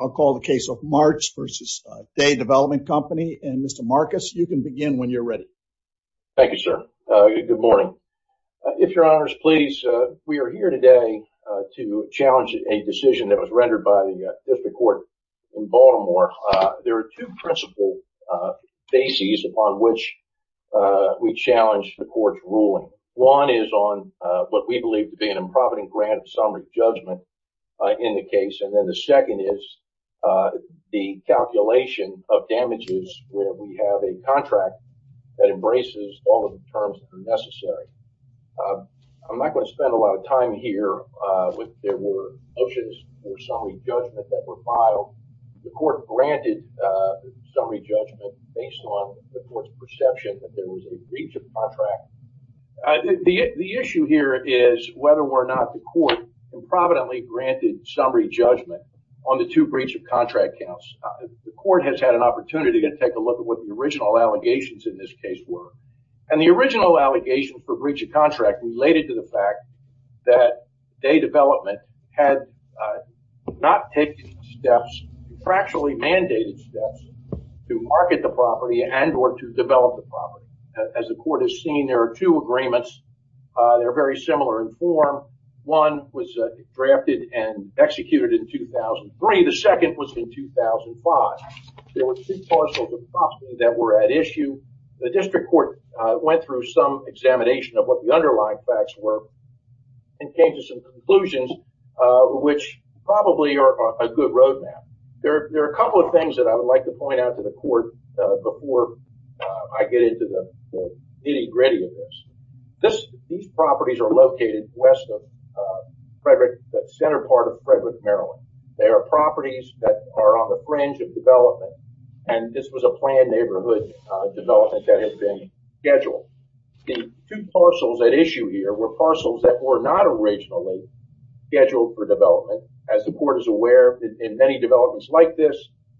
I'll call the case of Martz v. Day Development Company, and Mr. Marcus, you can begin when you're ready. Thank you, sir. Good morning. If your honors please, we are here today to challenge a decision that was rendered by the District Court in Baltimore. There are two principal bases upon which we challenge the court's ruling. One is on what we believe to be an improvident grant of summary judgment in the case, and then the second is the calculation of damages where we have a contract that embraces all of the terms that are necessary. I'm not going to spend a lot of time here. There were motions for summary judgment that were filed. The court granted the summary judgment based on the court's perception that there was a breach of contract. The issue here is whether or not the court improvidently granted summary judgment on the two breach of contract counts. The court has had an opportunity to take a look at what the original allegations in this case were, and the original allegation for breach of contract related to the fact that Day Development had not taken steps, actually mandated steps, to market the property and or to develop the property. As the court has seen, there are two agreements. They're very similar in form. One was drafted and executed in 2003. The second was in 2005. There were two parcels of property that were at issue. The District Court went through some examination of what the underlying facts were and came to some conclusions which probably are a good roadmap. There are a couple of things that I would like to point out to the court before I get into the nitty-gritty of this. These properties are located west of Frederick, the center part of Frederick, Maryland. They are properties that are on the fringe of development, and this was a planned neighborhood development that had been scheduled. The two parcels at issue here were not originally scheduled for development. As the court is aware, in many developments like this,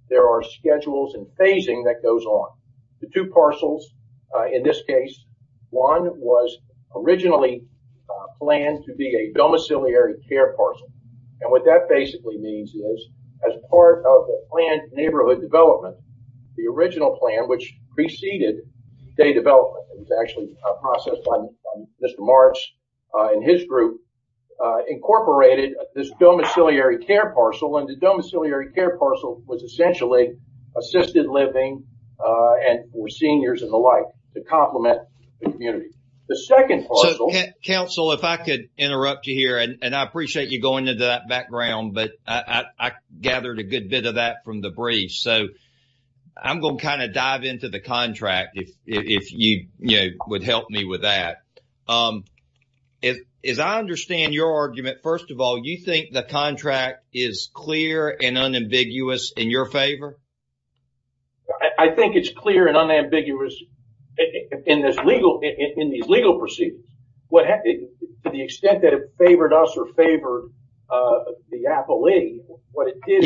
there are schedules and phasing that goes on. The two parcels in this case, one was originally planned to be a domiciliary care parcel, and what that basically means is as part of the planned neighborhood development, the original plan which preceded Day Development was actually processed by Mr. Marks and his group, incorporated this domiciliary care parcel, and the domiciliary care parcel was essentially assisted living for seniors and the like to complement the community. The second parcel... So, counsel, if I could interrupt you here, and I appreciate you going into that background, but I gathered a good bit of that from the briefs, so I'm going to kind of dive into the contract if you would help me with that. As I understand your argument, first of all, you think the contract is clear and unambiguous in your favor? I think it's clear and unambiguous in these legal proceedings. To the extent that it favored us or favored the appellee, what it did...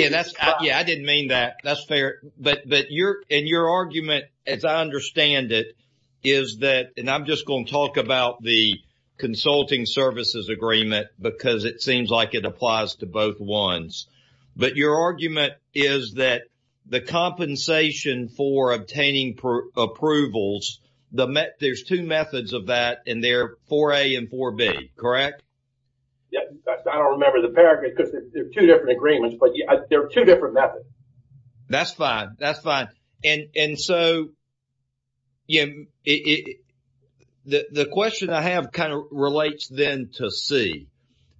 Yeah, I didn't mean that. That's fair. And your argument, as I understand it, is that, and I'm just going to talk about the consulting services agreement because it seems like it applies to both ones, but your argument is that the compensation for obtaining approvals, there's two methods of that and they're 4A and 4B, correct? Yeah, I don't remember the paragraph because they're two different agreements, but they're two different methods. That's fine. That's fine. And so, the question I have kind of relates then to C,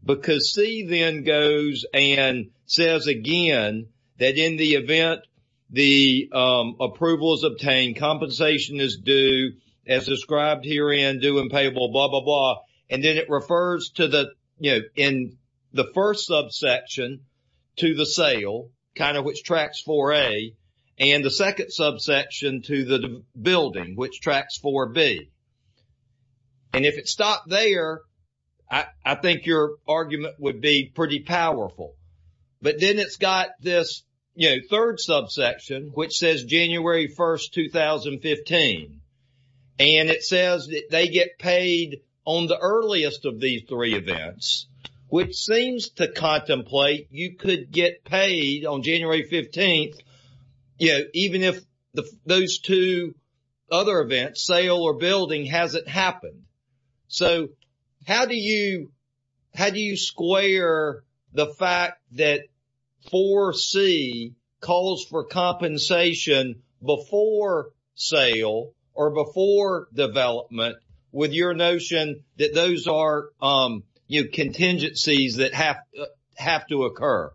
because C then goes and says again that in the blah, blah, blah. And then it refers to the, you know, in the first subsection to the sale, kind of which tracks 4A, and the second subsection to the building, which tracks 4B. And if it stopped there, I think your argument would be pretty powerful. But then it's got this, you know, third subsection, which says January 1st, 2015. And it says that they get paid on the earliest of these three events, which seems to contemplate you could get paid on January 15th, you know, even if those two other events, sale or building, hasn't happened. So, how do you square the fact that 4C calls for compensation before sale or before development with your notion that those are, you know, contingencies that have to occur?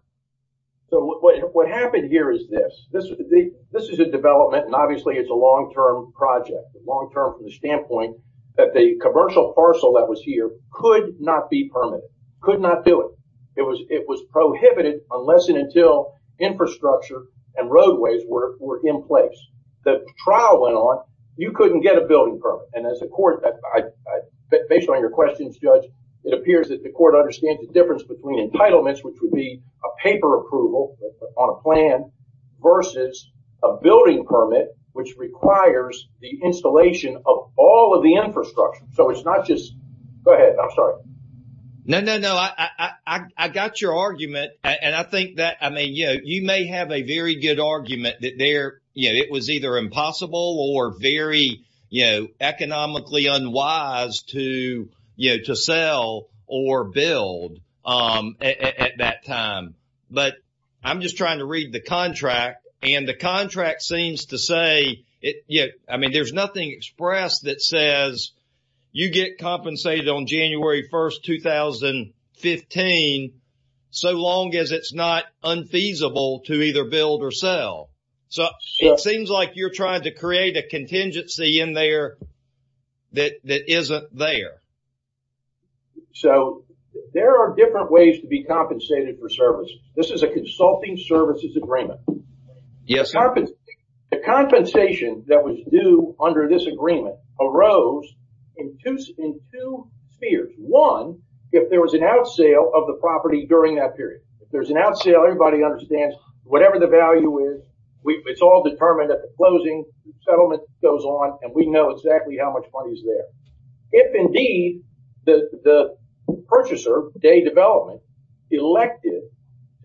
So, what happened here is this. This is a development, and obviously it's a long-term project, long-term from the standpoint that the commercial parcel that was here could not be permitted, could not do it. It was prohibited unless and until infrastructure and roadways were in place. The trial went on. You couldn't get a building permit. And as a court, based on your questions, Judge, it appears that the court understands the difference between entitlements, which would be a paper approval on a plan versus a building permit, which requires the installation of all of the infrastructure. So, it's not just... Go ahead. I'm sorry. No, no, no. I got your argument. And I think that, I mean, you know, you may have a very good argument that there, you know, it was either impossible or very, you know, economically unwise to, you know, to sell or build at that time. But I'm just trying to read the contract. And the contract seems to say, I mean, there's nothing expressed that says you get compensated on January 1st, 2015, so long as it's not unfeasible to either build or sell. So, it seems like you're trying to create a contingency in there that isn't there. So, there are different ways to be compensated for service. This is a consulting services agreement. The compensation that was due under this agreement arose in two spheres. One, if there was an out sale of the property during that period. If there's an out sale, everybody understands whatever the value is, it's all determined at the closing, settlement goes on, and we know exactly how much money is there. If indeed the purchaser, day development, elected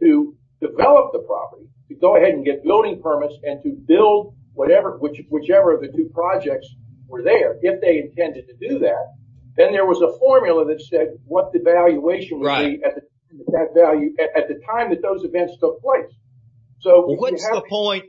to develop the property, to go ahead and get building permits and to build whatever, whichever of the two projects were there, if they intended to do that, then there was a formula that said what the valuation would be at the time that those events took place. So, what's the point?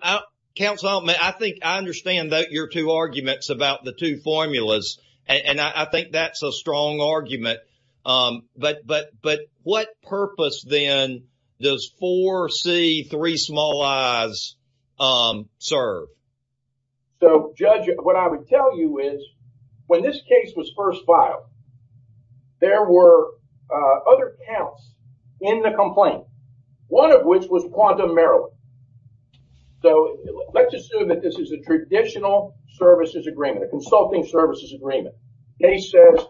Councilman, I think I understand that your arguments about the two formulas, and I think that's a strong argument, but what purpose then does 4C, three small i's, serve? So, Judge, what I would tell you is, when this case was first filed, there were other counts in the complaint, one of which was quantum Maryland. So, let's assume that this is a traditional services agreement, a consulting services agreement. Case says,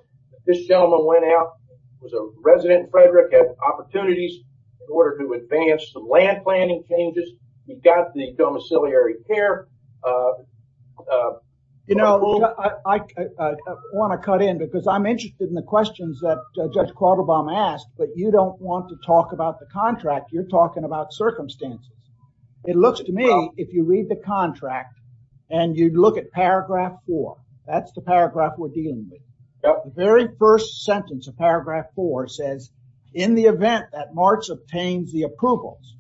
this gentleman went out, was a resident in Frederick, had opportunities in order to advance some land planning changes. You've got the domiciliary care. You know, I want to cut in, because I'm interested in the questions that Judge It looks to me, if you read the contract and you look at paragraph four, that's the paragraph we're dealing with. The very first sentence of paragraph four says, in the event that March obtains the approvals,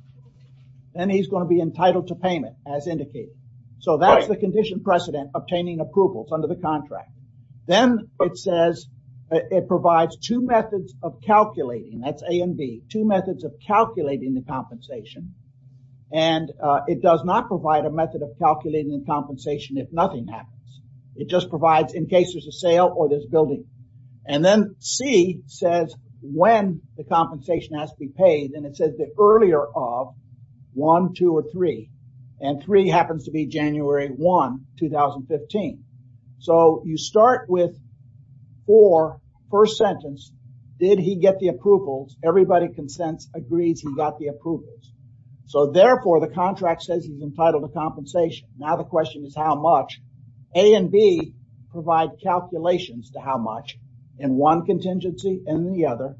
then he's going to be entitled to payment as indicated. So, that's the condition precedent obtaining approvals under the contract. Then it says, it provides two methods of calculating the compensation, and it does not provide a method of calculating the compensation if nothing happens. It just provides in case there's a sale or there's building. And then C says, when the compensation has to be paid, and it says the earlier of one, two, or three, and three happens to be January 1, 2015. So, you start with four, first sentence, did he get the approvals? Everybody consents, agrees he got the approvals. So, therefore, the contract says he's entitled to compensation. Now, the question is how much? A and B provide calculations to how much in one contingency and the other,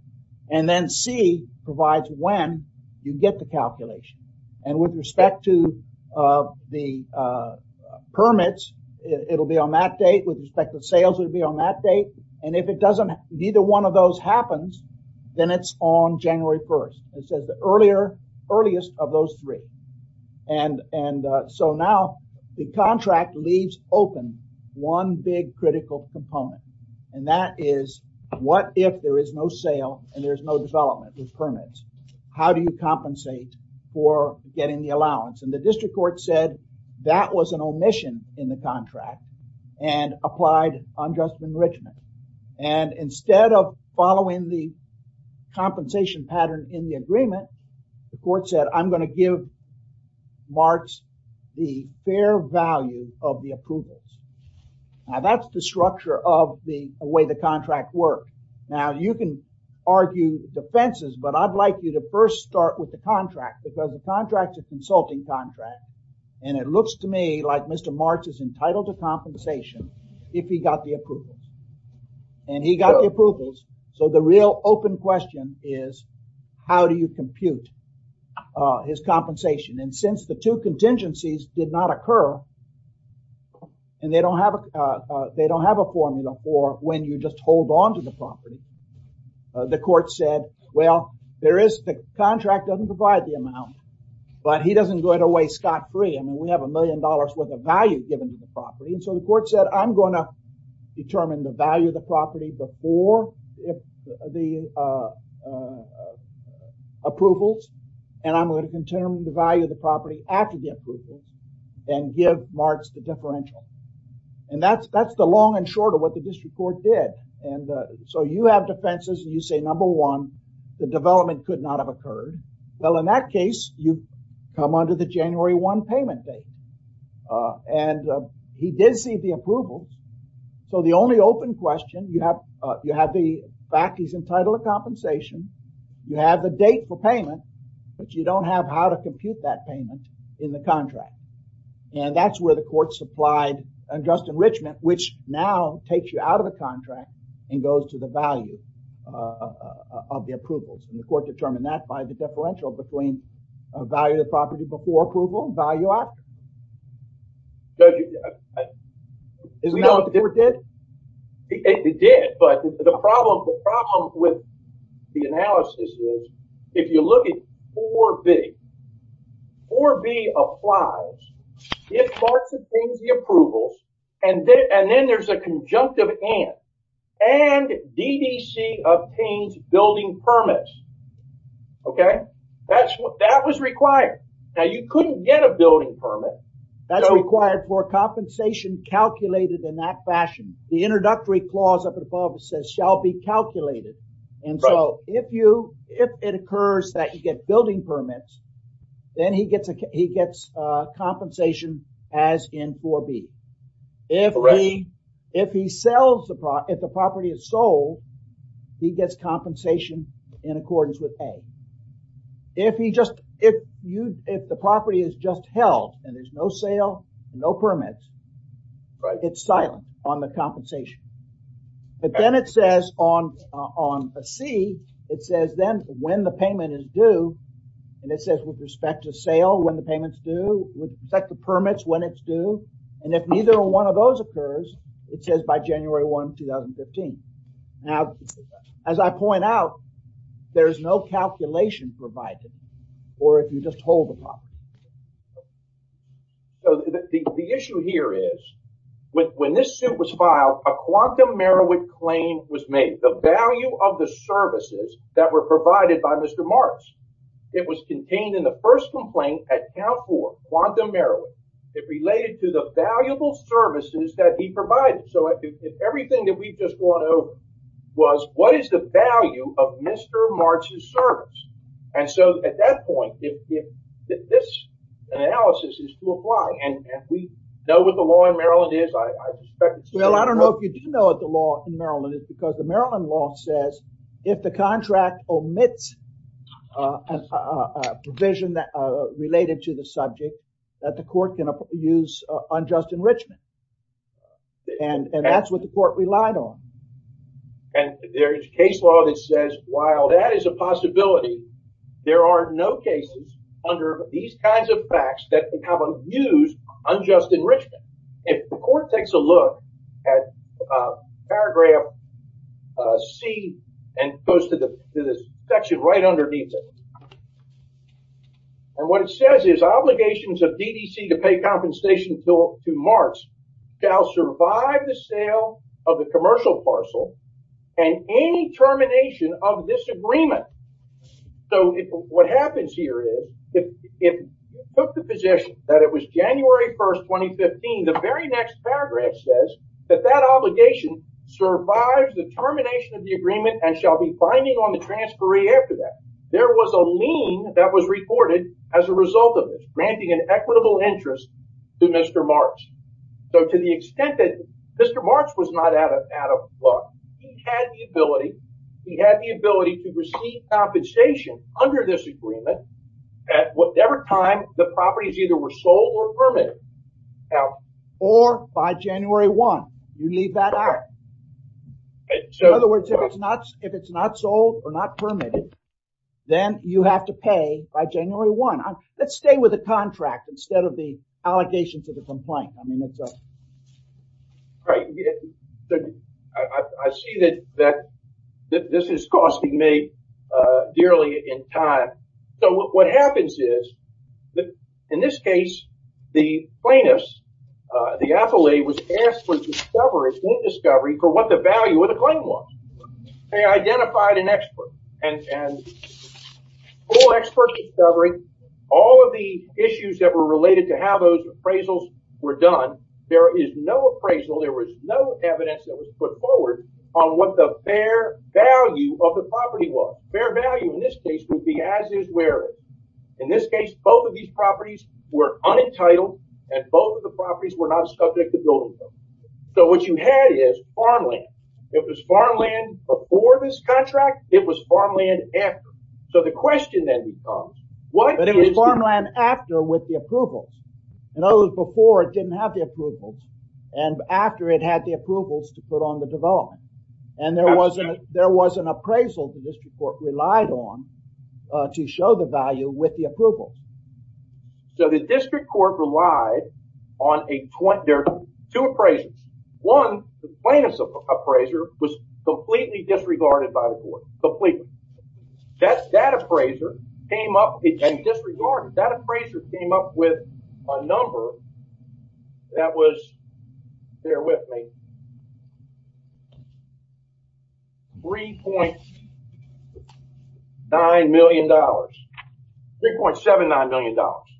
and then C provides when you get the calculation. And with respect to the permits, it'll be on that date. With respect to sales, it'll be on that date. And if it doesn't, neither one of those happens, then it's on January 1. It says the earliest of those three. And so, now the contract leaves open one big critical component, and that is what if there is no sale and there's no development with permits? How do you compensate for getting the allowance? And the district court said that was an omission in the contract and applied unjust enrichment. And instead of following the compensation pattern in the agreement, the court said, I'm going to give Marks the fair value of the approvals. Now, that's the structure of the way the contract works. Now, you can argue defenses, but I'd like you to first start with the contract because the contract is a consulting contract, and it looks to me like Mr. Marks is entitled to compensation if he got the approvals. And he got the approvals, so the real open question is, how do you compute his compensation? And since the two contingencies did not occur, and they don't have a formula for when you just hold on to the property, the court said, well, there is the contract doesn't provide the amount, but he doesn't go out of way scot-free. I mean, we have a million dollars worth of value given to the property. And so, the court said, I'm going to determine the value of the property before the approvals, and I'm going to determine the value of the property after the approvals, and give Marks the differential. And that's the long and short of what the district court did. And so, you have defenses, and you say, number one, the development could not have occurred. Well, in that case, you come under the January 1 payment date, and he did see the approvals. So, the only open question, you have the fact he's entitled to compensation, you have the date for payment, but you don't have how to compute that payment in the contract. And that's where the court supplied unjust enrichment, which now takes you out of the contract, and goes to the value of the approvals. And the court determined that by the differential between value of the property before approval, value after. Isn't that what the district did? It did, but the problem with the analysis is, if you look at 4B, 4B applies, gives Marks and Fink the approvals, and then there's a conjunctive and, and DDC obtains building permits, okay? That was required. Now, you couldn't get a building permit. That's required for compensation calculated in that fashion. The introductory clause of the policy says, shall be calculated. And so, if it occurs that you get building permits, then he gets a, he gets a compensation as in 4B. If he, if he sells the, if the property is sold, he gets compensation in accordance with A. If he just, if you, if the property is just held, and there's no sale, no permits, it's silent on the compensation. But then it says on, on C, it says then when the payment is due, and it says with respect to sale when the payment's due, with respect to permits when it's due, and if neither one of those occurs, it says by January 1, 2015. Now, as I point out, there's no calculation provided, or if you just hold the property. So, the issue here is, when this suit was filed, a Quantum Merowith claim was made. The value of the services that were provided by Mr. March, it was contained in the first complaint at Count 4, Quantum Merowith. It related to the valuable services that he provided. So, everything that we've just gone over was, what is the value of Mr. March's service? And so, at that point, if this analysis is to apply, and we know what the law in Maryland is, I suspect it's... Well, I don't know if you do know what the law in Maryland is, because the Maryland law says, if the contract omits a provision that related to the subject, that the court can use unjust enrichment. And that's what the court relied on. And there's case law that says, while that is a possibility, there are no cases under these kinds of facts that would have abused unjust enrichment. If the court takes a look at paragraph C, and goes to the section right underneath it. And what it says is, obligations of DDC to pay compensation to March shall survive the sale of the commercial parcel and any termination of this agreement. So, what happens here is, if you took the position that it was January 1st, 2015, the very next paragraph says, that that obligation survives the termination of the agreement and shall be binding on the transferee after that. There was a lien that was reported as a result of this, granting an equitable interest to Mr. March. So, to the extent that Mr. March was not out of luck, he had the ability, to receive compensation under this agreement at whatever time the properties either were sold or permitted. Or by January 1, you leave that out. In other words, if it's not sold or not permitted, then you have to pay by January 1. Let's stay with the contract instead of the yearly in time. So, what happens is, in this case, the plaintiffs, the affiliate was asked for discovery for what the value of the claim was. They identified an expert. And all expert discovery, all of the issues that were related to how those appraisals were done, there is no appraisal, there was no evidence that was put forward on what the fair value of the property was. Fair value, in this case, would be as is, where is. In this case, both of these properties were unentitled and both of the properties were not subject to building code. So, what you had is farmland. It was farmland before this contract, it was farmland after. So, the question then becomes, what is... But it was farmland after with the approvals. In other words, before it didn't have the approvals and after it had the approvals to put on the development. And there was an appraisal the district court relied on to show the value with the approval. So, the district court relied on a... There are two appraisals. One, the plaintiff's appraiser was completely disregarded by the court, completely. That appraiser came up... And disregarded. That appraiser came up with a number that was... $3.9 million. $3.79 million.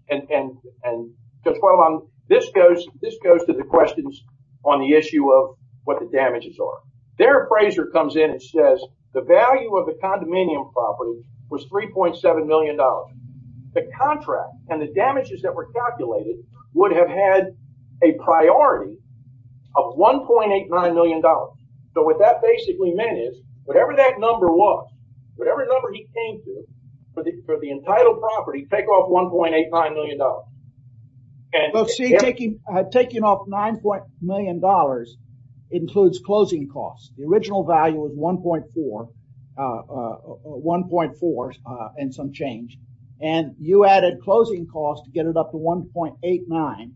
And this goes to the questions on the issue of what the damages are. Their appraiser comes in and says, the value of the condominium property was $3.7 million. The contract and the damages that were calculated would have had a priority of $1.89 million. So, what that basically meant is, whatever that number was, whatever number he came to, for the entitled property, take off $1.89 million. Well, see, taking off $9.9 million includes closing costs. The original value was $1.4 and some change. And you added closing costs to get it up to $1.89.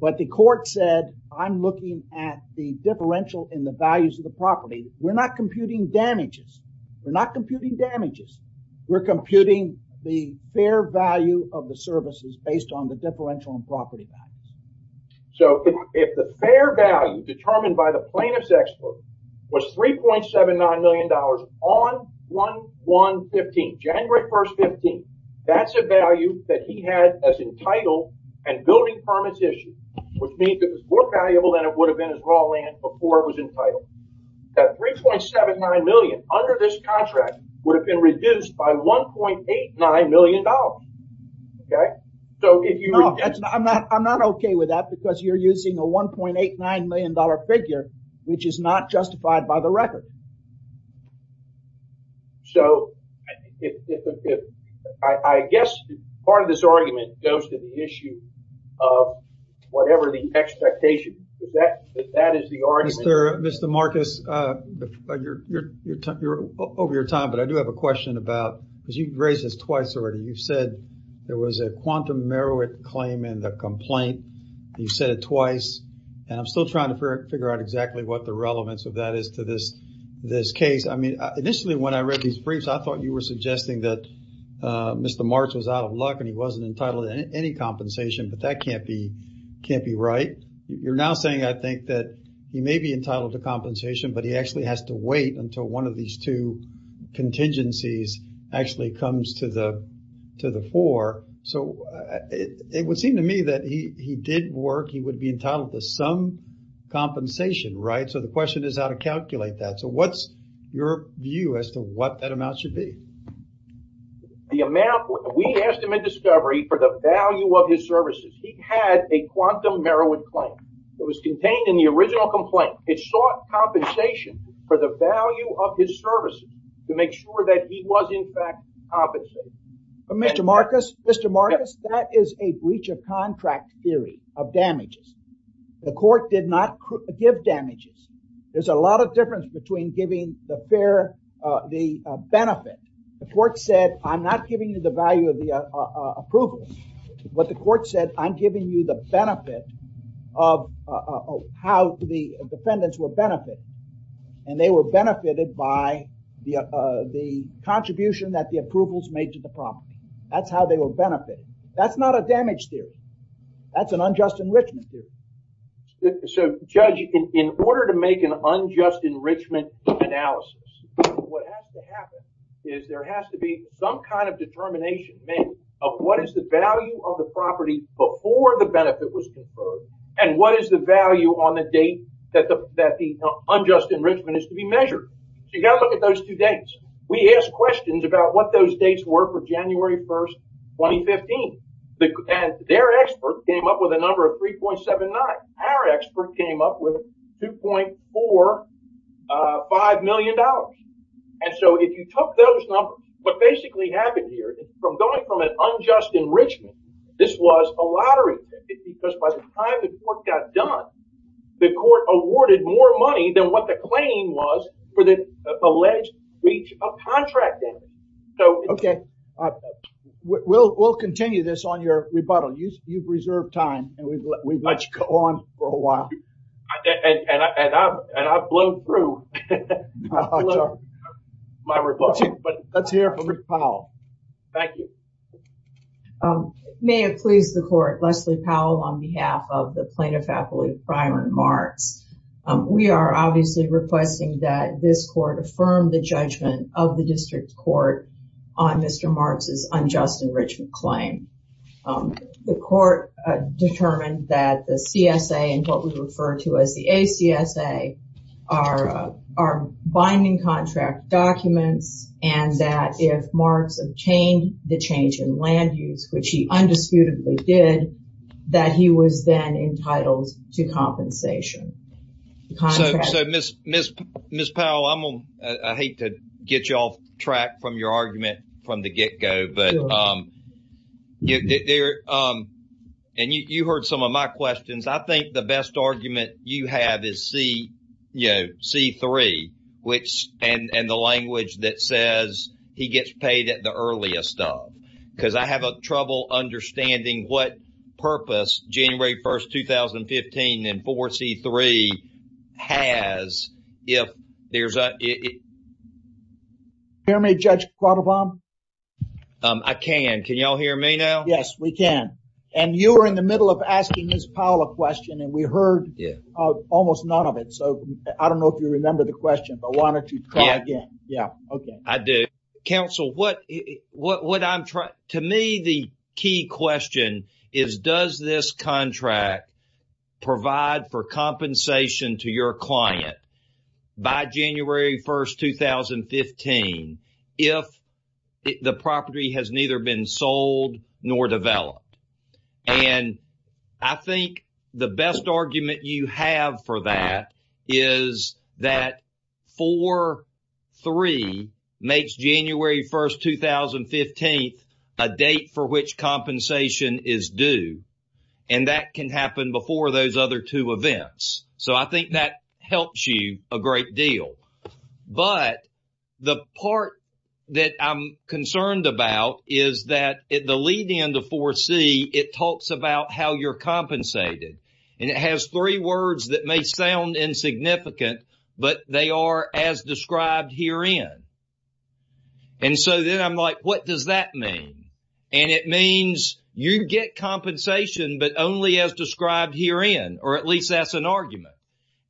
But the court said, I'm looking at the differential in the values of the property. We're not computing damages. We're not computing damages. We're computing the fair value of the services based on the differential in property values. So, if the fair value determined by the plaintiff's expert was $3.79 million on 1-1-15, January 1st, 15, that's a value that he had as entitled and building permits issued, which means it was more valuable than it would have been as raw land before it was entitled. That $3.79 million under this contract would have been reduced by $1.89 million. Okay? So, if you... No, I'm not okay with that because you're using a $1.89 million figure, which is not justified by the record. So, I guess part of this argument goes to the issue of whatever the expectation. If that is the argument... Mr. Marcus, over your time, but I do have a question about, because you raised this twice already, you said there was a quantum merit claim in the complaint. You said it twice, and I'm still trying to figure out exactly what the relevance of that is to this case. I mean, initially when I read these briefs, I thought you were suggesting that Mr. Marks was out of luck and he wasn't entitled to any compensation, but that can't be right. You're now saying, I think, that he may be entitled to compensation, but he actually has to wait until one of these two contingencies actually comes to the fore. So, it would seem to me that he did work. He would be entitled to some compensation, right? So, the question is how to calculate that. So, what's your view as to what that amount should be? The amount... We asked him in discovery for the value of his services. He had a quantum merit claim. It was contained in the original complaint. It sought compensation for the value of his services to make sure that he was in fact compensated. Mr. Marcus, Mr. Marcus, that is a breach of contract theory of damages. The court did not give damages. There's a lot of difference between giving the benefit. The court said, I'm not giving you the value of the approval. What the court said, I'm giving you the benefit of how the defendants were benefited, and they were benefited by the contribution that the approvals made to the property. That's how they were benefited. That's not a damage theory. That's an unjust enrichment theory. So, Judge, in order to make an unjust enrichment analysis, what has to happen is there has to be some kind of determination made of what is the value of the property before the benefit was conferred, and what is the value on the date that the unjust enrichment is to be measured. So, you got to look at those two dates. We asked questions about what those dates were for January 1st, 2015, and their expert came up with a number of 3.79. Our expert came up with 2.45 million dollars. And so, if you took those numbers, what basically happened here is from going from an unjust enrichment, this was a lottery. Because by the time the court got done, the court awarded more money than what the claim was for the alleged breach of contract damage. Okay. We'll continue this on your rebuttal. You've reserved time and we've let you go on for a while. And I've blown through my rebuttal. But let's hear from Rich Powell. Thank you. May it please the court, Leslie Powell, on behalf of the Plano Faculty of Crime and Marks. We are obviously requesting that this court affirm the judgment of the district court on Mr. Marks' unjust enrichment claim. The court determined that the CSA and what we refer to as the ACSA are binding contract documents and that if Marks obtained the change in land use, which he undisputedly did, that he was then entitled to compensation. So, Ms. Powell, I hate to get you off track from the get-go, but you heard some of my questions. I think the best argument you have is C3 and the language that says he gets paid at the earliest of. Because I have trouble understanding what you're saying. I can. Can you all hear me now? Yes, we can. And you were in the middle of asking Ms. Powell a question and we heard almost none of it. So, I don't know if you remember the question, but why don't you try again? Yeah. Okay. I do. Counsel, to me, the key question is does this the property has neither been sold nor developed? And I think the best argument you have for that is that 4-3 makes January 1st, 2015, a date for which compensation is due. And that can happen before those other two events. So, I think that helps you a great deal. But the part that I'm concerned about is that at the leading end of 4-C, it talks about how you're compensated. And it has three words that may sound insignificant, but they are as described herein. And so then I'm like, what does that mean? And it means you get compensation, but only as described herein, or at least that's an argument.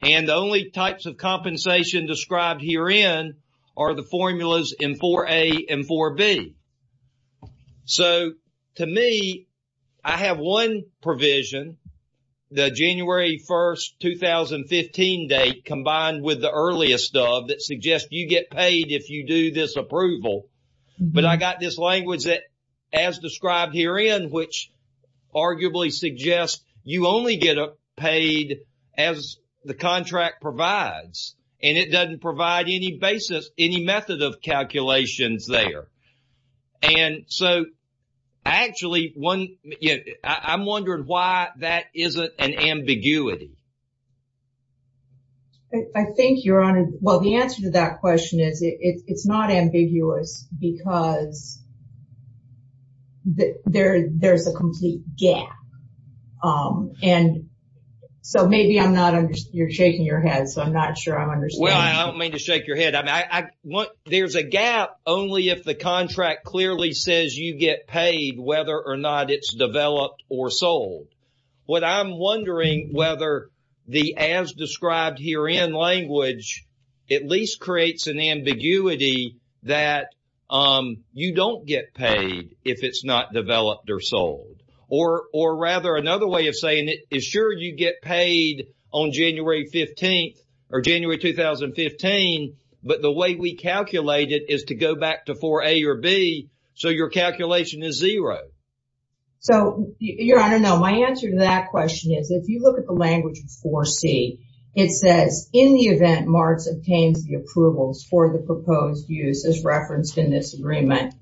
And the only types of compensation described herein are the formulas in 4-A and 4-B. So, to me, I have one provision, the January 1st, 2015 date combined with the earliest of that suggests you get paid if you do this approval. But I got this language that, as described herein, which arguably suggests you only get paid as the contract provides. And it doesn't provide any basis, any method of calculations there. And so, actually, I'm wondering why that isn't an ambiguity. I think, Your Honor, well, the answer to that question is it's not ambiguous because there's a complete gap. And so, maybe I'm not, you're shaking your head, so I'm not sure I'm understanding. Well, I don't mean to shake your head. I mean, there's a gap only if the contract clearly says you get paid, whether or not it's developed or sold. What I'm wondering whether the as described herein language at least creates an ambiguity that you don't get paid if it's not developed or sold. Or rather, another way of saying it is sure you get paid on January 15th or January 2015, but the way we calculate it is to go back to 4-A or B, so your calculation is zero. So, Your Honor, no, my answer to that question is if you look at the language of 4-C, it says in the event MARTS obtains the approvals for the proposed use as referenced in this agreement,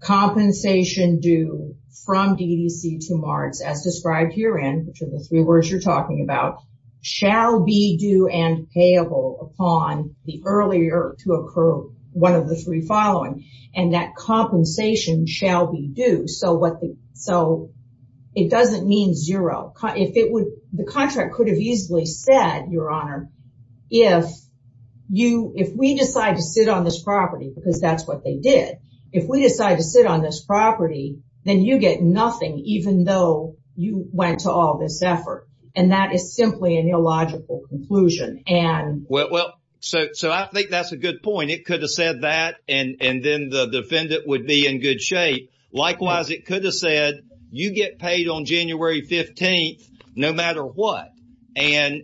compensation due from DDC to MARTS as described herein, which are the three words you're talking about, shall be due and payable upon the earlier to occur one of the three following. And that compensation shall be due, so it doesn't mean zero. The contract could have easily said, Your Honor, if we decide to sit on this property, because that's what they did, if we decide to sit on this property, then you get nothing even though you went to all this effort. And that is simply an illogical conclusion. Well, so I think that's a good point. It could have said that and then the defendant would be in good shape. Likewise, it could have said, you get paid on January 15th no matter what. And,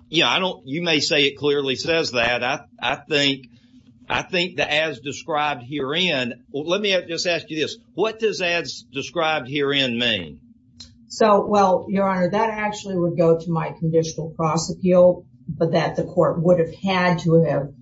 you know, I don't, you may say it clearly says that. I think the as described herein, let me just ask you this, what does as described herein mean? So, well, Your Honor, that actually would go to my conditional prosecutorial, but that the court would have had to have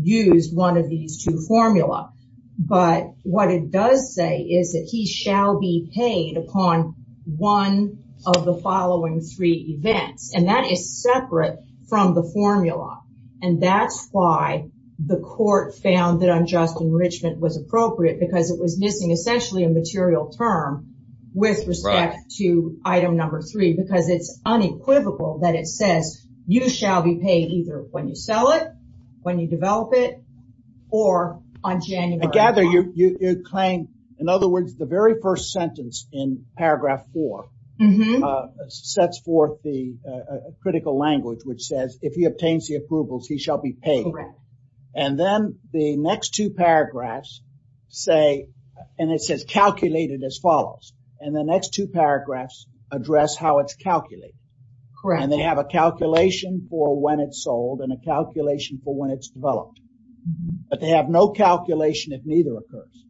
used one of these two formula. But what it does say is that he shall be paid upon one of the following three events. And that is separate from the formula. And that's why the court found that unjust enrichment was appropriate because it was missing essentially a material term with respect to item number three, because it's unequivocal that it says you shall be paid either when you sell it, when you develop it, or on January. I gather you claim, in other words, the very first sentence in paragraph four sets forth the critical language, which says, if he obtains the approvals, he shall be paid. And then the next two paragraphs say, and it says calculated as follows. And the next two paragraphs address how it's calculated. And they have a calculation for when it's sold and a calculation for when it's developed. But they have no calculation if neither occurs.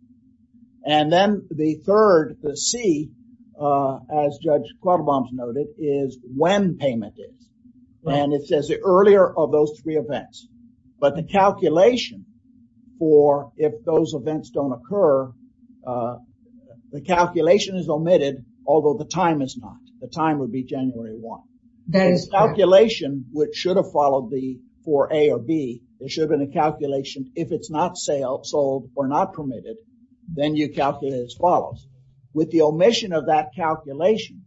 And then the third, the C, as Judge Quattlebaum noted, is when payment is. And it says the earlier of those three events. But the calculation for if those events don't occur, the calculation is omitted, although the time is not. The time would be January one. That is calculation, which should have followed the four A or B. There should have been a calculation if it's not sold or not permitted, then you calculate as follows. With the omission of that calculation,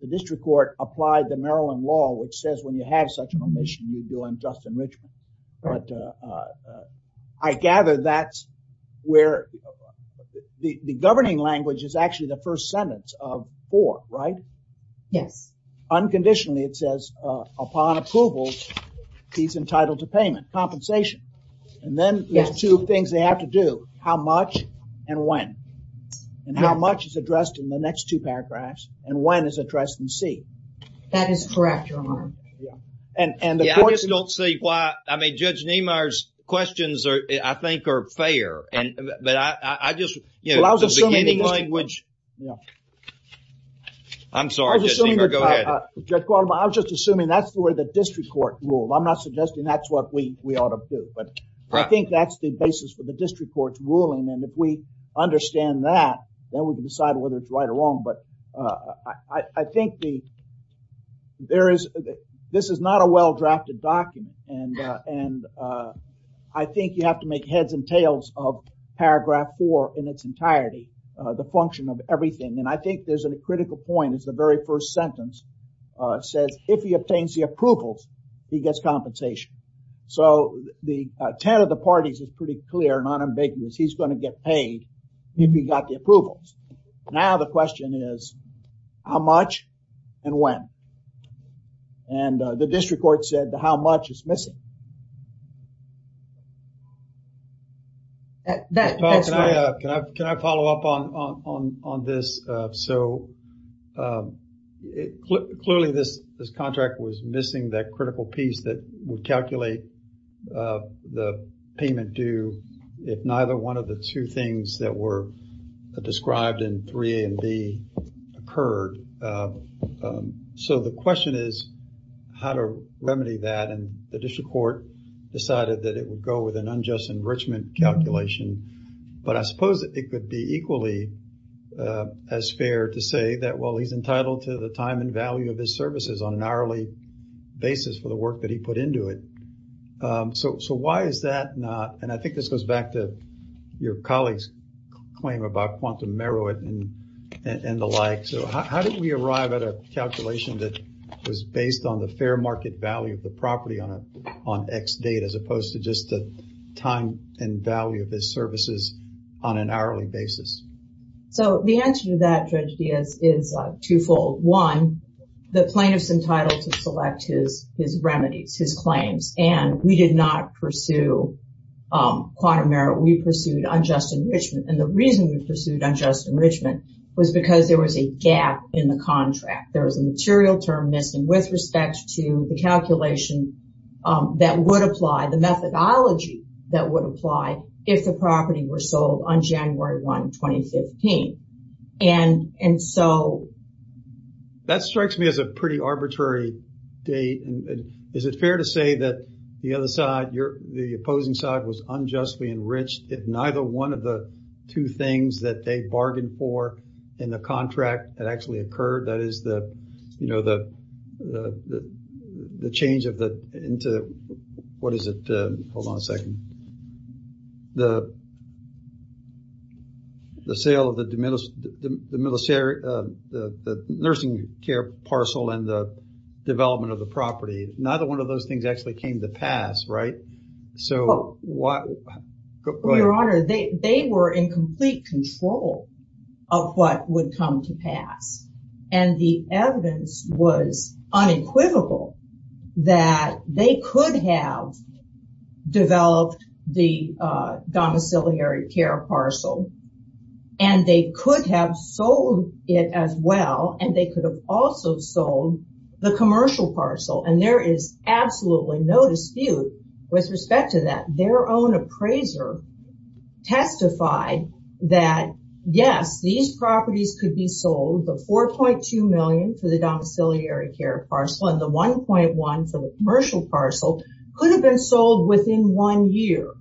the district court applied the Maryland law, which says when you have such an omission, you do unjust enrichment. But I gather that's where the governing language is actually the first sentence of four, right? Yes. Unconditionally, it says upon approval, he's entitled to payment compensation. And then there's two things they have to do. How much and when and how much is addressed in the next two paragraphs and when is addressed in C. That is correct. And I just don't see why. I mean, Judge Niemeyer's questions I think are fair. And but I just, you know, beginning language. Yeah. I'm sorry. Go ahead. I was just assuming that's where the district court rule. I'm not suggesting that's what we ought to do. But I think that's the basis for the district court's ruling. And if we understand that, then we can decide whether it's right or wrong. But I think the there is this is a well-drafted document. And I think you have to make heads and tails of paragraph four in its entirety, the function of everything. And I think there's a critical point is the very first sentence says, if he obtains the approvals, he gets compensation. So the 10 of the parties is pretty clear and unambiguous. He's going to get paid if he got the approvals. Now, the question is how much and when. And the district court said how much is missing. That's right. Can I follow up on this? So, clearly, this contract was missing that critical piece that would calculate the payment due if neither one of the two things that were occurred. So the question is how to remedy that. And the district court decided that it would go with an unjust enrichment calculation. But I suppose it could be equally as fair to say that, well, he's entitled to the time and value of his services on an hourly basis for the work that he put into it. So why is that not? And I think this goes back to your colleague's claim about quantum merit and the like. So how did we arrive at a calculation that was based on the fair market value of the property on X date, as opposed to just the time and value of his services on an hourly basis? So the answer to that, Judge Diaz, is twofold. One, the plaintiff's entitled to select his remedies, his claims. And we did not pursue quantum merit. We pursued unjust enrichment. And the reason we pursued unjust enrichment was because there was a gap in the contract. There was a material term missing with respect to the calculation that would apply, the methodology that would apply if the property were sold on January 1, 2015. And so... That strikes me as a pretty arbitrary date. And is it fair to say that the other side, the opposing side, was unjustly enriched if neither one of the two things that they bargained for in the contract had actually occurred? That is the change of the... What is it? Hold on a second. The sale of the nursing care parcel and the development of the property. Neither one of those things actually came to pass, right? So what... Go ahead. Your Honor, they were in complete control of what would come to pass. And the evidence was unequivocal that they could have developed the domiciliary care parcel. And they could have sold it as well. And they could have also sold the commercial parcel. And there is absolutely no dispute with respect to that. Their own appraiser testified that, yes, these properties could be sold. The $4.2 million for the domiciliary care parcel and the $1.1 million for the commercial parcel could have been sold within one year.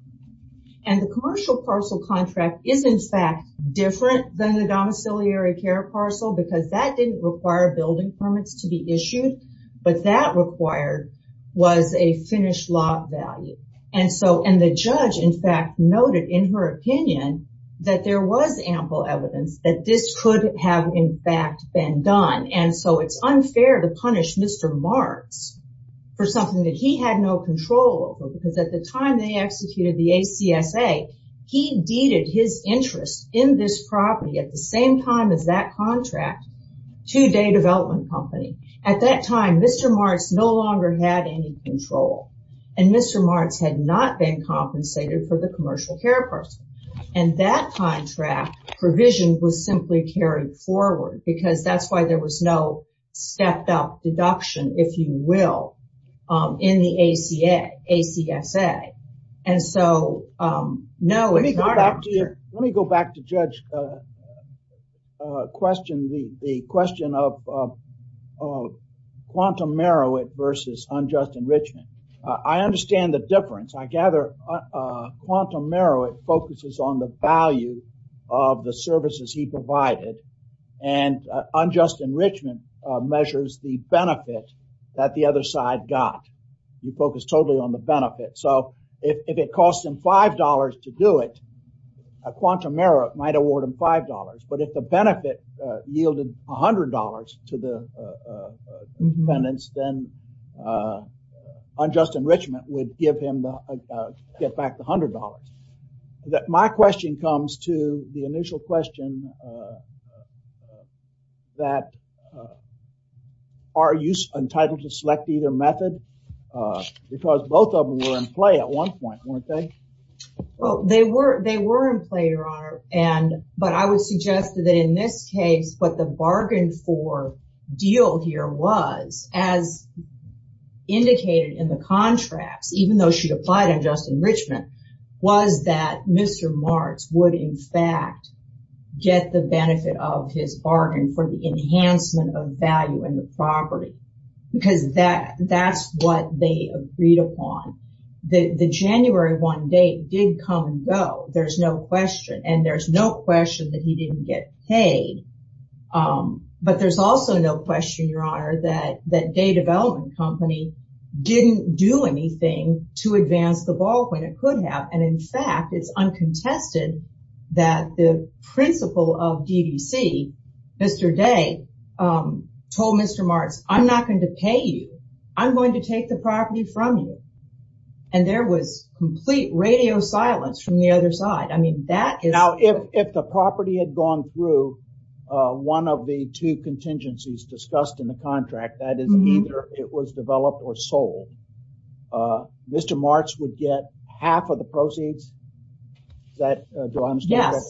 And the commercial parcel contract is in fact different than the domiciliary care because that didn't require building permits to be issued. But that required was a finished lot value. And the judge in fact noted in her opinion that there was ample evidence that this could have in fact been done. And so it's unfair to punish Mr. Marks for something that he had no control over. Because at the time they executed the ACSA, he deeded his interest in this property at the same time as that contract to a day development company. At that time, Mr. Marks no longer had any control. And Mr. Marks had not been compensated for the commercial care parcel. And that contract provision was simply carried forward because that's why there was no stepped up deduction, if you will, in the ACSA. And so, no. Let me go back to Judge's question, the question of quantum merit versus unjust enrichment. I understand the difference. I gather quantum merit focuses on the value of the services he provided. And unjust enrichment measures the benefit that the other side got. You focus totally on the benefit. So, if it costs him $5 to do it, a quantum merit might award him $5. But if the benefit yielded $100 to the defendants, then unjust enrichment would give him to get back the $100. My question comes to the initial question that are you entitled to select either method? Because both of them were in play at one point, weren't they? Well, they were in play, Your Honor. But I would suggest that in this case, what the bargain for deal here was, as indicated in the contracts, even though she applied unjust enrichment, was that Mr. Marks would in fact get the benefit of his bargain for the enhancement of value in property. Because that's what they agreed upon. The January 1 date did come and go. There's no question. And there's no question that he didn't get paid. But there's also no question, Your Honor, that Day Development Company didn't do anything to advance the ball when it could have. And in fact, it's uncontested that the principal of DDC, Mr. Day, told Mr. Marks, I'm not going to pay you. I'm going to take the property from you. And there was complete radio silence from the other side. I mean, that is... Now, if the property had gone through one of the two contingencies discussed in the contract, that is, either it was developed or sold, Mr. Marks would get half of the proceeds that... Do I understand that? Yes.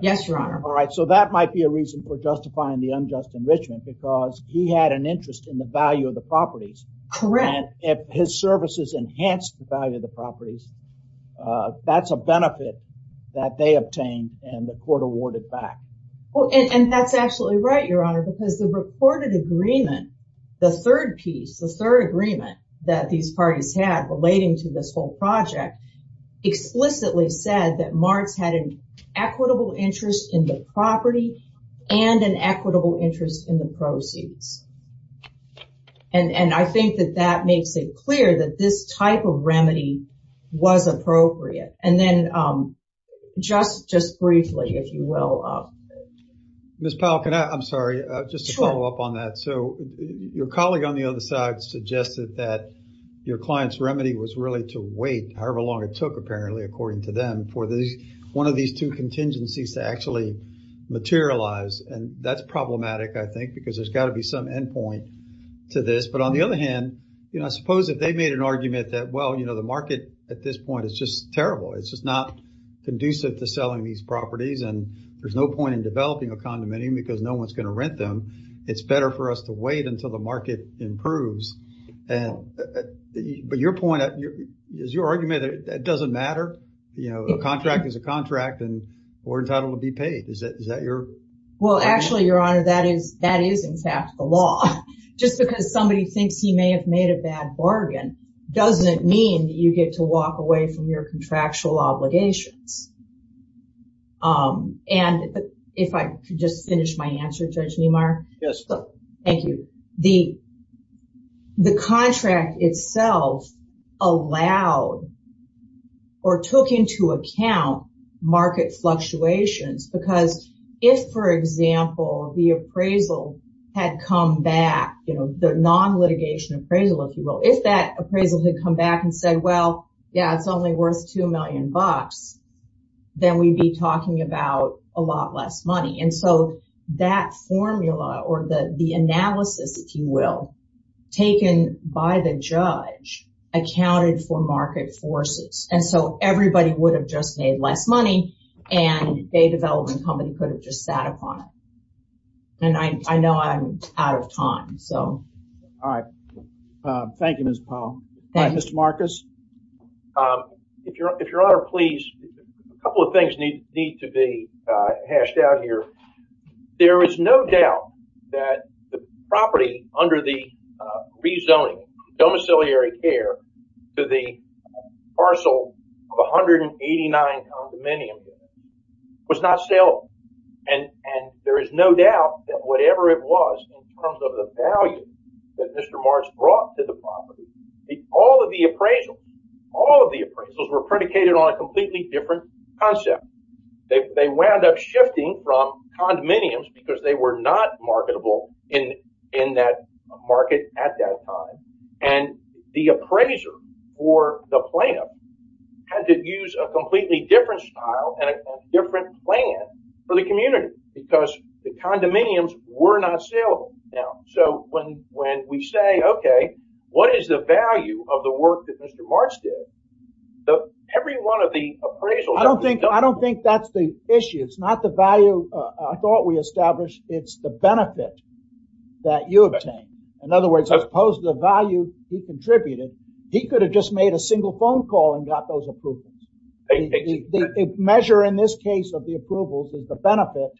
Yes, Your Honor. All right. So that might be a reason for justifying the unjust enrichment because he had an interest in the value of the properties. Correct. And if his services enhanced the value of the properties, that's a benefit that they obtained and the court awarded back. And that's absolutely right, Your Honor, because the reported agreement, the third piece, the third agreement that these parties had relating to this whole project, explicitly said that Marks had an equitable interest in the property and an equitable interest in the proceeds. And I think that that makes it clear that this type of Mr. Powell, can I... I'm sorry, just to follow up on that. So your colleague on the other side suggested that your client's remedy was really to wait however long it took, apparently, according to them for one of these two contingencies to actually materialize. And that's problematic, I think, because there's got to be some endpoint to this. But on the other hand, you know, I suppose if they made an argument that, well, you know, the market at this point is terrible. It's just not conducive to selling these properties. And there's no point in developing a condominium because no one's going to rent them. It's better for us to wait until the market improves. But your point, is your argument that it doesn't matter? You know, a contract is a contract and we're entitled to be paid. Is that your... Well, actually, Your Honor, that is in fact the law. Just because somebody thinks he may have made a bad bargain doesn't mean that you get to walk away from your contractual obligations. And if I could just finish my answer, Judge Niemeyer. Yes. Thank you. The contract itself allowed or took into account market fluctuations because if, for example, the appraisal had come back, you know, the non-litigation appraisal, if you will, that appraisal had come back and said, well, yeah, it's only worth two million bucks, then we'd be talking about a lot less money. And so that formula or the analysis, if you will, taken by the judge accounted for market forces. And so everybody would have just made less money and a development company could have just sat upon it. And I know I'm out of time, so. All right. Thank you, Ms. Powell. Mr. Marcus. If Your Honor, please, a couple of things need to be hashed out here. There is no doubt that the property under the rezoning domiciliary care to the parcel of 189 condominiums was not saleable. And there is no doubt that whatever it was in terms of the value that Mr. Mars brought to the property, all of the appraisals, all of the appraisals were predicated on a completely different concept. They wound up shifting from condominiums because they were not marketable in that market at that time. And the appraiser or the plaintiff had to use a completely different style and a different plan for the community because the condominiums were not saleable. Now, so when we say, OK, what is the value of the work that Mr. Mars did? Every one of the appraisals. I don't think I don't think that's the issue. It's not the value I thought we established. It's the benefit that you obtained. In other words, as opposed to the value you contributed, he could have just made a single phone call and got those approvals. The measure in this case of the approvals is the benefit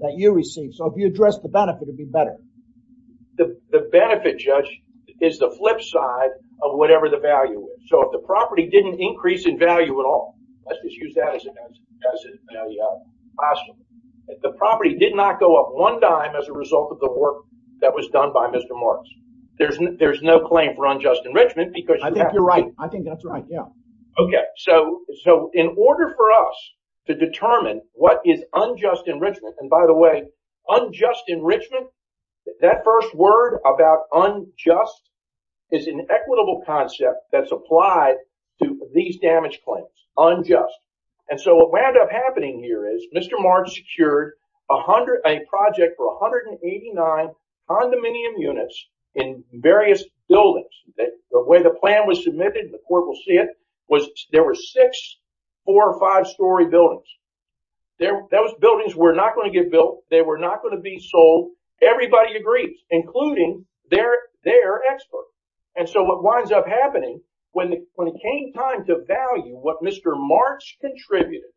that you receive. So if you address the benefit, it'd be better. The benefit, Judge, is the flip side of whatever the value is. So if the property didn't increase in value at all, let's just use that as a classroom. If the property did not go up one dime as a result of the work that was done by Mr. Mars, there's there's no claim for unjust enrichment because I think you're right. I think that's right. Yeah. OK, so so in order for us to determine what is unjust enrichment, and by the way, unjust enrichment, that first word about unjust is an equitable concept that's applied to these damage claims, unjust. And so what wound up happening here is Mr. Mars secured a project for 189 condominium units in various buildings. The way the plan was submitted, the court will see it, was there were six four or five story buildings. Those buildings were not going to get built. They were not going to be sold. Everybody agrees, including their experts. And so what winds up happening when it came time to value what Mr. Mars contributed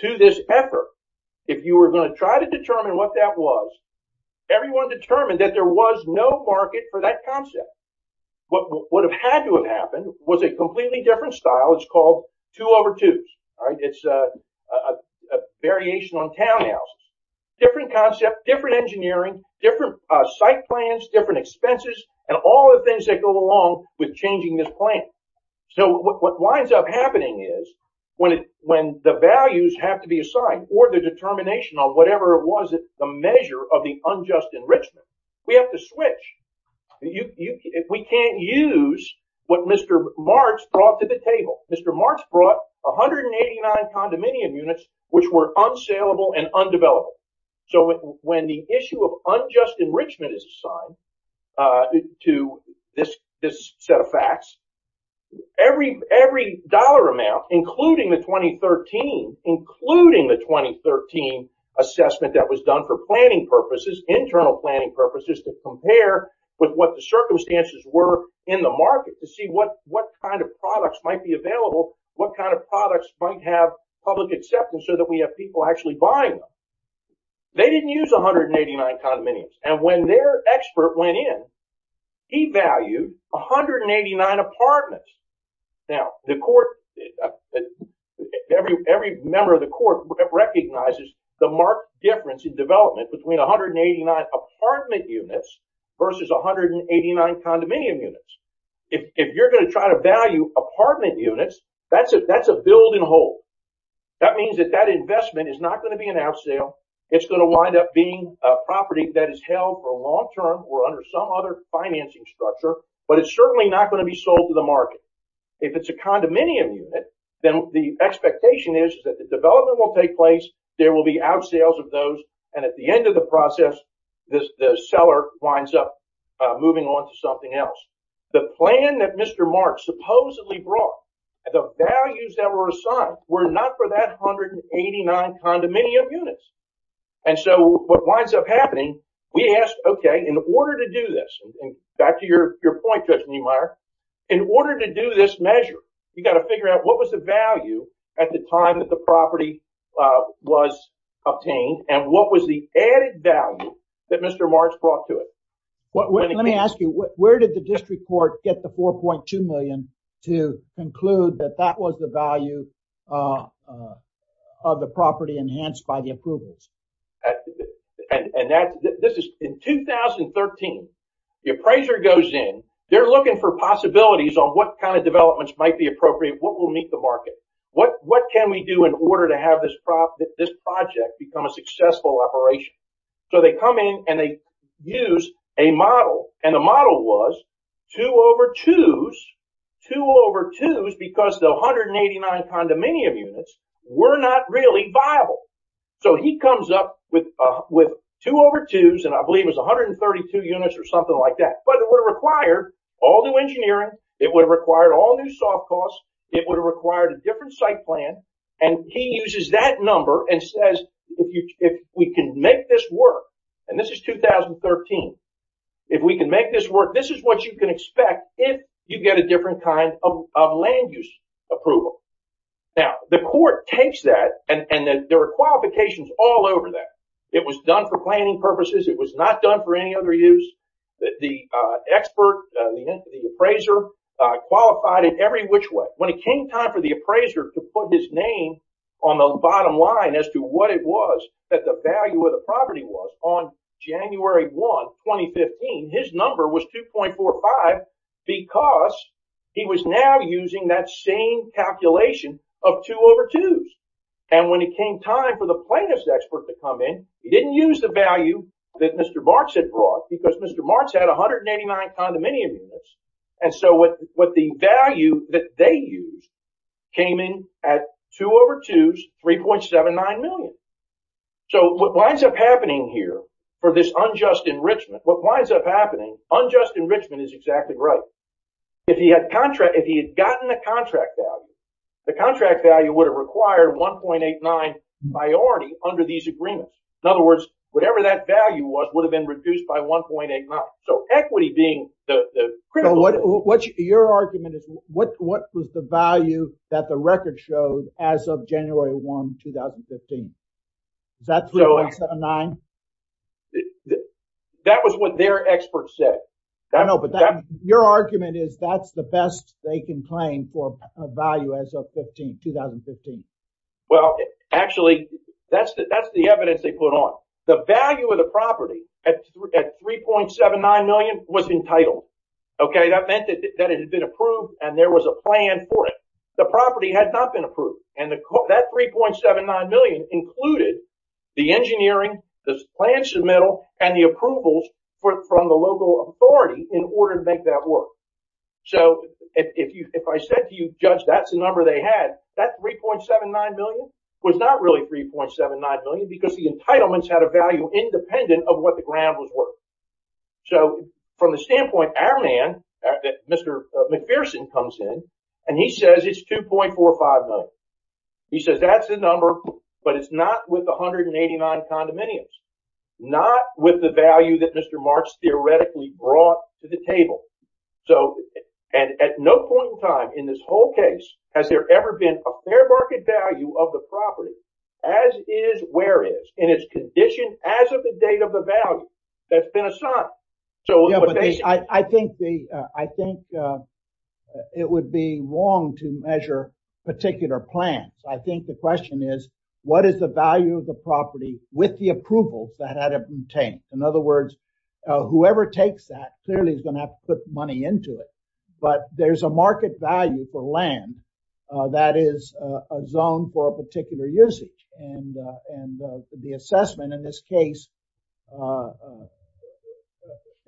to this effort, if you were going to try to determine what that was, everyone determined that there was no market for that concept. What would have had to have happened was a completely different style. It's called two over twos. It's a variation on townhouse, different concept, different engineering, different site plans, different expenses and all the things that go along with changing this plan. So what winds up happening is when the values have to be assigned or the determination on whatever it was, the measure of the unjust enrichment, we have to switch. We can't use what Mr. Mars brought to the table. Mr. Mars brought 189 condominium units which were unsaleable and undeveloped. So when the issue of unjust enrichment is assigned to this set of facts, every dollar amount, including the 2013 assessment that was done for planning purposes, internal planning purposes, to compare with what the circumstances were in the market to see what kind of products might be available, what kind of products might have public acceptance so that we have people actually buying them. They didn't use 189 condominiums. And when their expert went in, he valued 189 apartments. Now the court, every member of the court recognizes the marked difference in development between 189 apartment units versus 189 condominium units. If you're going to try to value apartment units, that's a build and hold. That means that that investment is not going to be an outsale. It's going to wind up being a property that is held for long term or some other financing structure, but it's certainly not going to be sold to the market. If it's a condominium unit, then the expectation is that the development will take place, there will be outsales of those, and at the end of the process, the seller winds up moving on to something else. The plan that Mr. Marks supposedly brought, the values that were assigned were not for that 189 condominium. In order to do this measure, you've got to figure out what was the value at the time that the property was obtained and what was the added value that Mr. Marks brought to it. Let me ask you, where did the district court get the $4.2 million to conclude that that was the value of the property enhanced by the approvals? In 2013, the appraiser goes in, they're looking for possibilities on what kind of developments might be appropriate, what will meet the market, what can we do in order to have this project become a successful operation? They come in and they use a model. The model was two over twos because the 189 condominium units were not really viable. He comes up with two over twos, and I believe it was 132 units or something like that. It would have required all new engineering, it would have required all new soft costs, it would have required a different site plan. He uses that number and says, if we can make this work, and this is 2013, if we can make this work, this is what you can expect if you get a different kind of land use approval. Now, the court takes that and there are qualifications all over that. It was done for planning purposes, it was not done for any other use. The expert, the appraiser qualified in every which way. When it came time for the appraiser to name on the bottom line as to what it was that the value of the property was on January 1, 2015, his number was 2.45 because he was now using that same calculation of two over twos. When it came time for the plaintiff's expert to come in, he didn't use the value that Mr. Marks had brought because Mr. Marks had 189 condominium units. What the value that they used came in at two over twos, 3.79 million. What winds up happening here for this unjust enrichment, what winds up happening, unjust enrichment is exactly right. If he had gotten the contract value, the contract value would have required 1.89 priority under these agreements. In other words, whatever that value would have been reduced by 1.89. Equity being the critical. What was the value that the record showed as of January 1, 2015? Is that 3.79? That was what their expert said. Your argument is that's the best they can claim for a value as of 2015. Well, actually, that's the evidence they put on. The value of the property at 3.79 million was entitled. That meant that it had been approved and there was a plan for it. The property had not been approved. That 3.79 million included the engineering, the plan submittal, and the approvals from the local authority in order to make that work. So, if I said to you, Judge, that's the number they had, that 3.79 million was not really 3.79 million because the entitlements had a value independent of what the ground was worth. So, from the standpoint, our man, Mr. McPherson comes in and he says it's 2.45 million. He says that's the number, but it's not with 189 condominiums, not with the value that Mr. McPherson has. At no point in time in this whole case has there ever been a fair market value of the property as it is, where it is, in its condition as of the date of the value that's been assigned. I think it would be wrong to measure particular plans. I think the question is, what is the value of the property with the approval that had been obtained? In other words, whoever takes that clearly is going to have to put money into it, but there's a market value for land that is a zone for a particular usage. And the assessment in this case,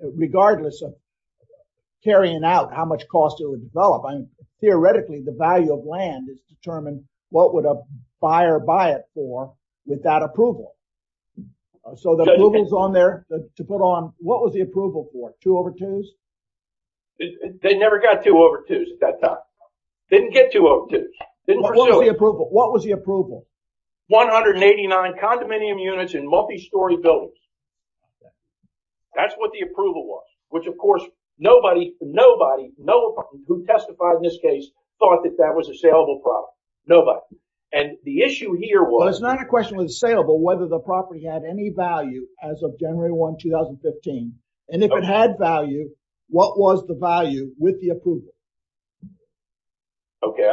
regardless of carrying out how much cost it would develop, I mean, theoretically, the value of land is determined what would a buyer buy it for with that approval. So the approval is on there to put on. What was the approval for? Two over twos? They never got two over twos at that time. Didn't get two over twos. Then what was the approval? What was the approval? 189 condominium units in multi-story buildings. That's what the approval was, which of course, nobody, nobody, nobody who testified in this case thought that that was a saleable property. Nobody. And the issue here was... The property had any value as of January 1, 2015. And if it had value, what was the value with the approval? Okay.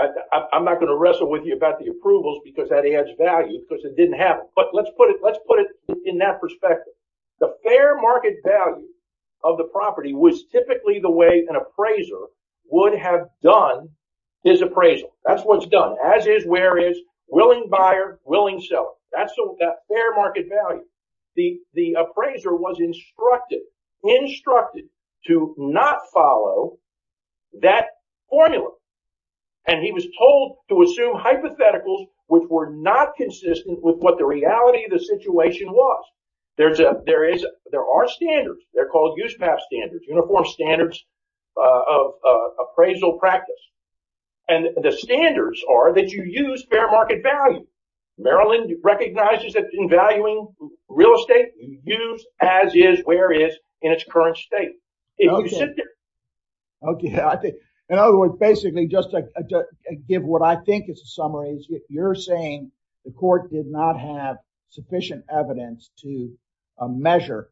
I'm not going to wrestle with you about the approvals because that adds value because it didn't have it. But let's put it in that perspective. The fair market value of the property was typically the way an appraiser would have done his appraisal. That's what's done, as is, where is, willing buyer, willing seller. That's the fair market value. The appraiser was instructed, instructed to not follow that formula. And he was told to assume hypotheticals which were not consistent with what the reality of the situation was. There are standards. They're called USPAP standards, uniform standards of appraisal practice. And the standards are that you use fair market value. Maryland recognizes that in valuing real estate, use as is, where is, in its current state. If you sit there... Okay. In other words, basically, just to give what I think is a summary, you're saying the court did not have sufficient evidence to measure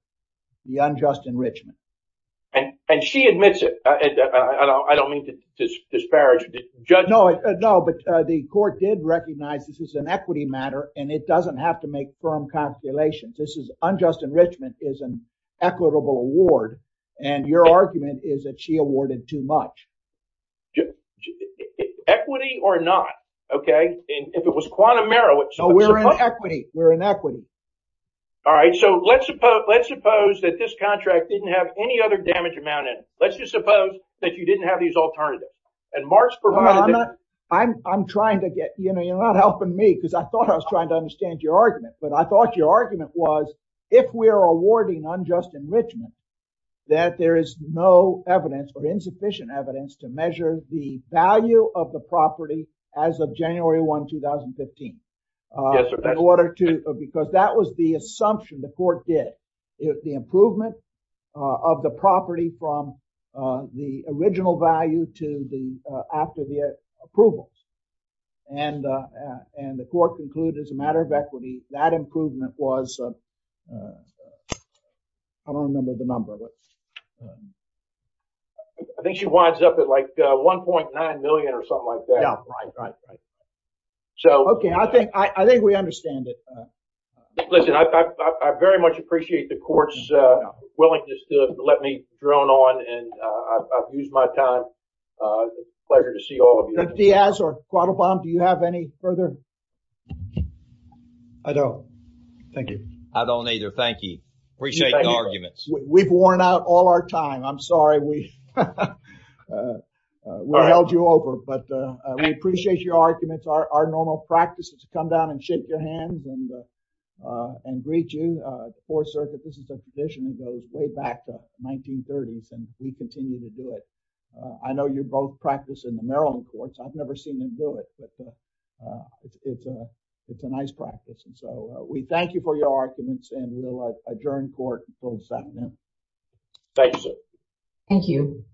the unjust enrichment. And she admits it. I don't mean to disparage the judge. No, no. But the court did recognize this is an equity matter and it doesn't have to make firm calculations. This is unjust enrichment is an equitable award. And your argument is that she awarded too much. Equity or not. Okay. And if it was quantum error... We're in equity. We're in equity. All right. So let's suppose that this contract didn't have any other damage amount in it. Let's just suppose that you didn't have these alternatives. And Mark's provided... I'm trying to get... You're not helping me because I thought I was trying to understand your argument. But I thought your argument was, if we're awarding unjust enrichment, that there is no evidence or insufficient evidence to measure the value of the property as of January 1, 2015. Yes, sir. Because that was the assumption the improvement of the property from the original value to the after the approvals. And the court concluded as a matter of equity, that improvement was... I don't remember the number of it. I think she winds up at like 1.9 million or something like that. Yeah. Right, right, right. Okay. I think we understand it. Listen, I very much appreciate the court's willingness to let me drone on and I've used my time. It's a pleasure to see all of you. Mr. Diaz or Quattlebaum, do you have any further? I don't. Thank you. I don't either. Thank you. Appreciate the arguments. We've worn out all our time. I'm sorry we held you over. But we appreciate your arguments. Our and greet you. The Fourth Circuit, this is a position that goes way back to the 1930s, and we continue to do it. I know you both practice in the Maryland courts. I've never seen them do it. But it's a nice practice. And so we thank you for your arguments and we'll adjourn court. Thank you, sir. Thank you.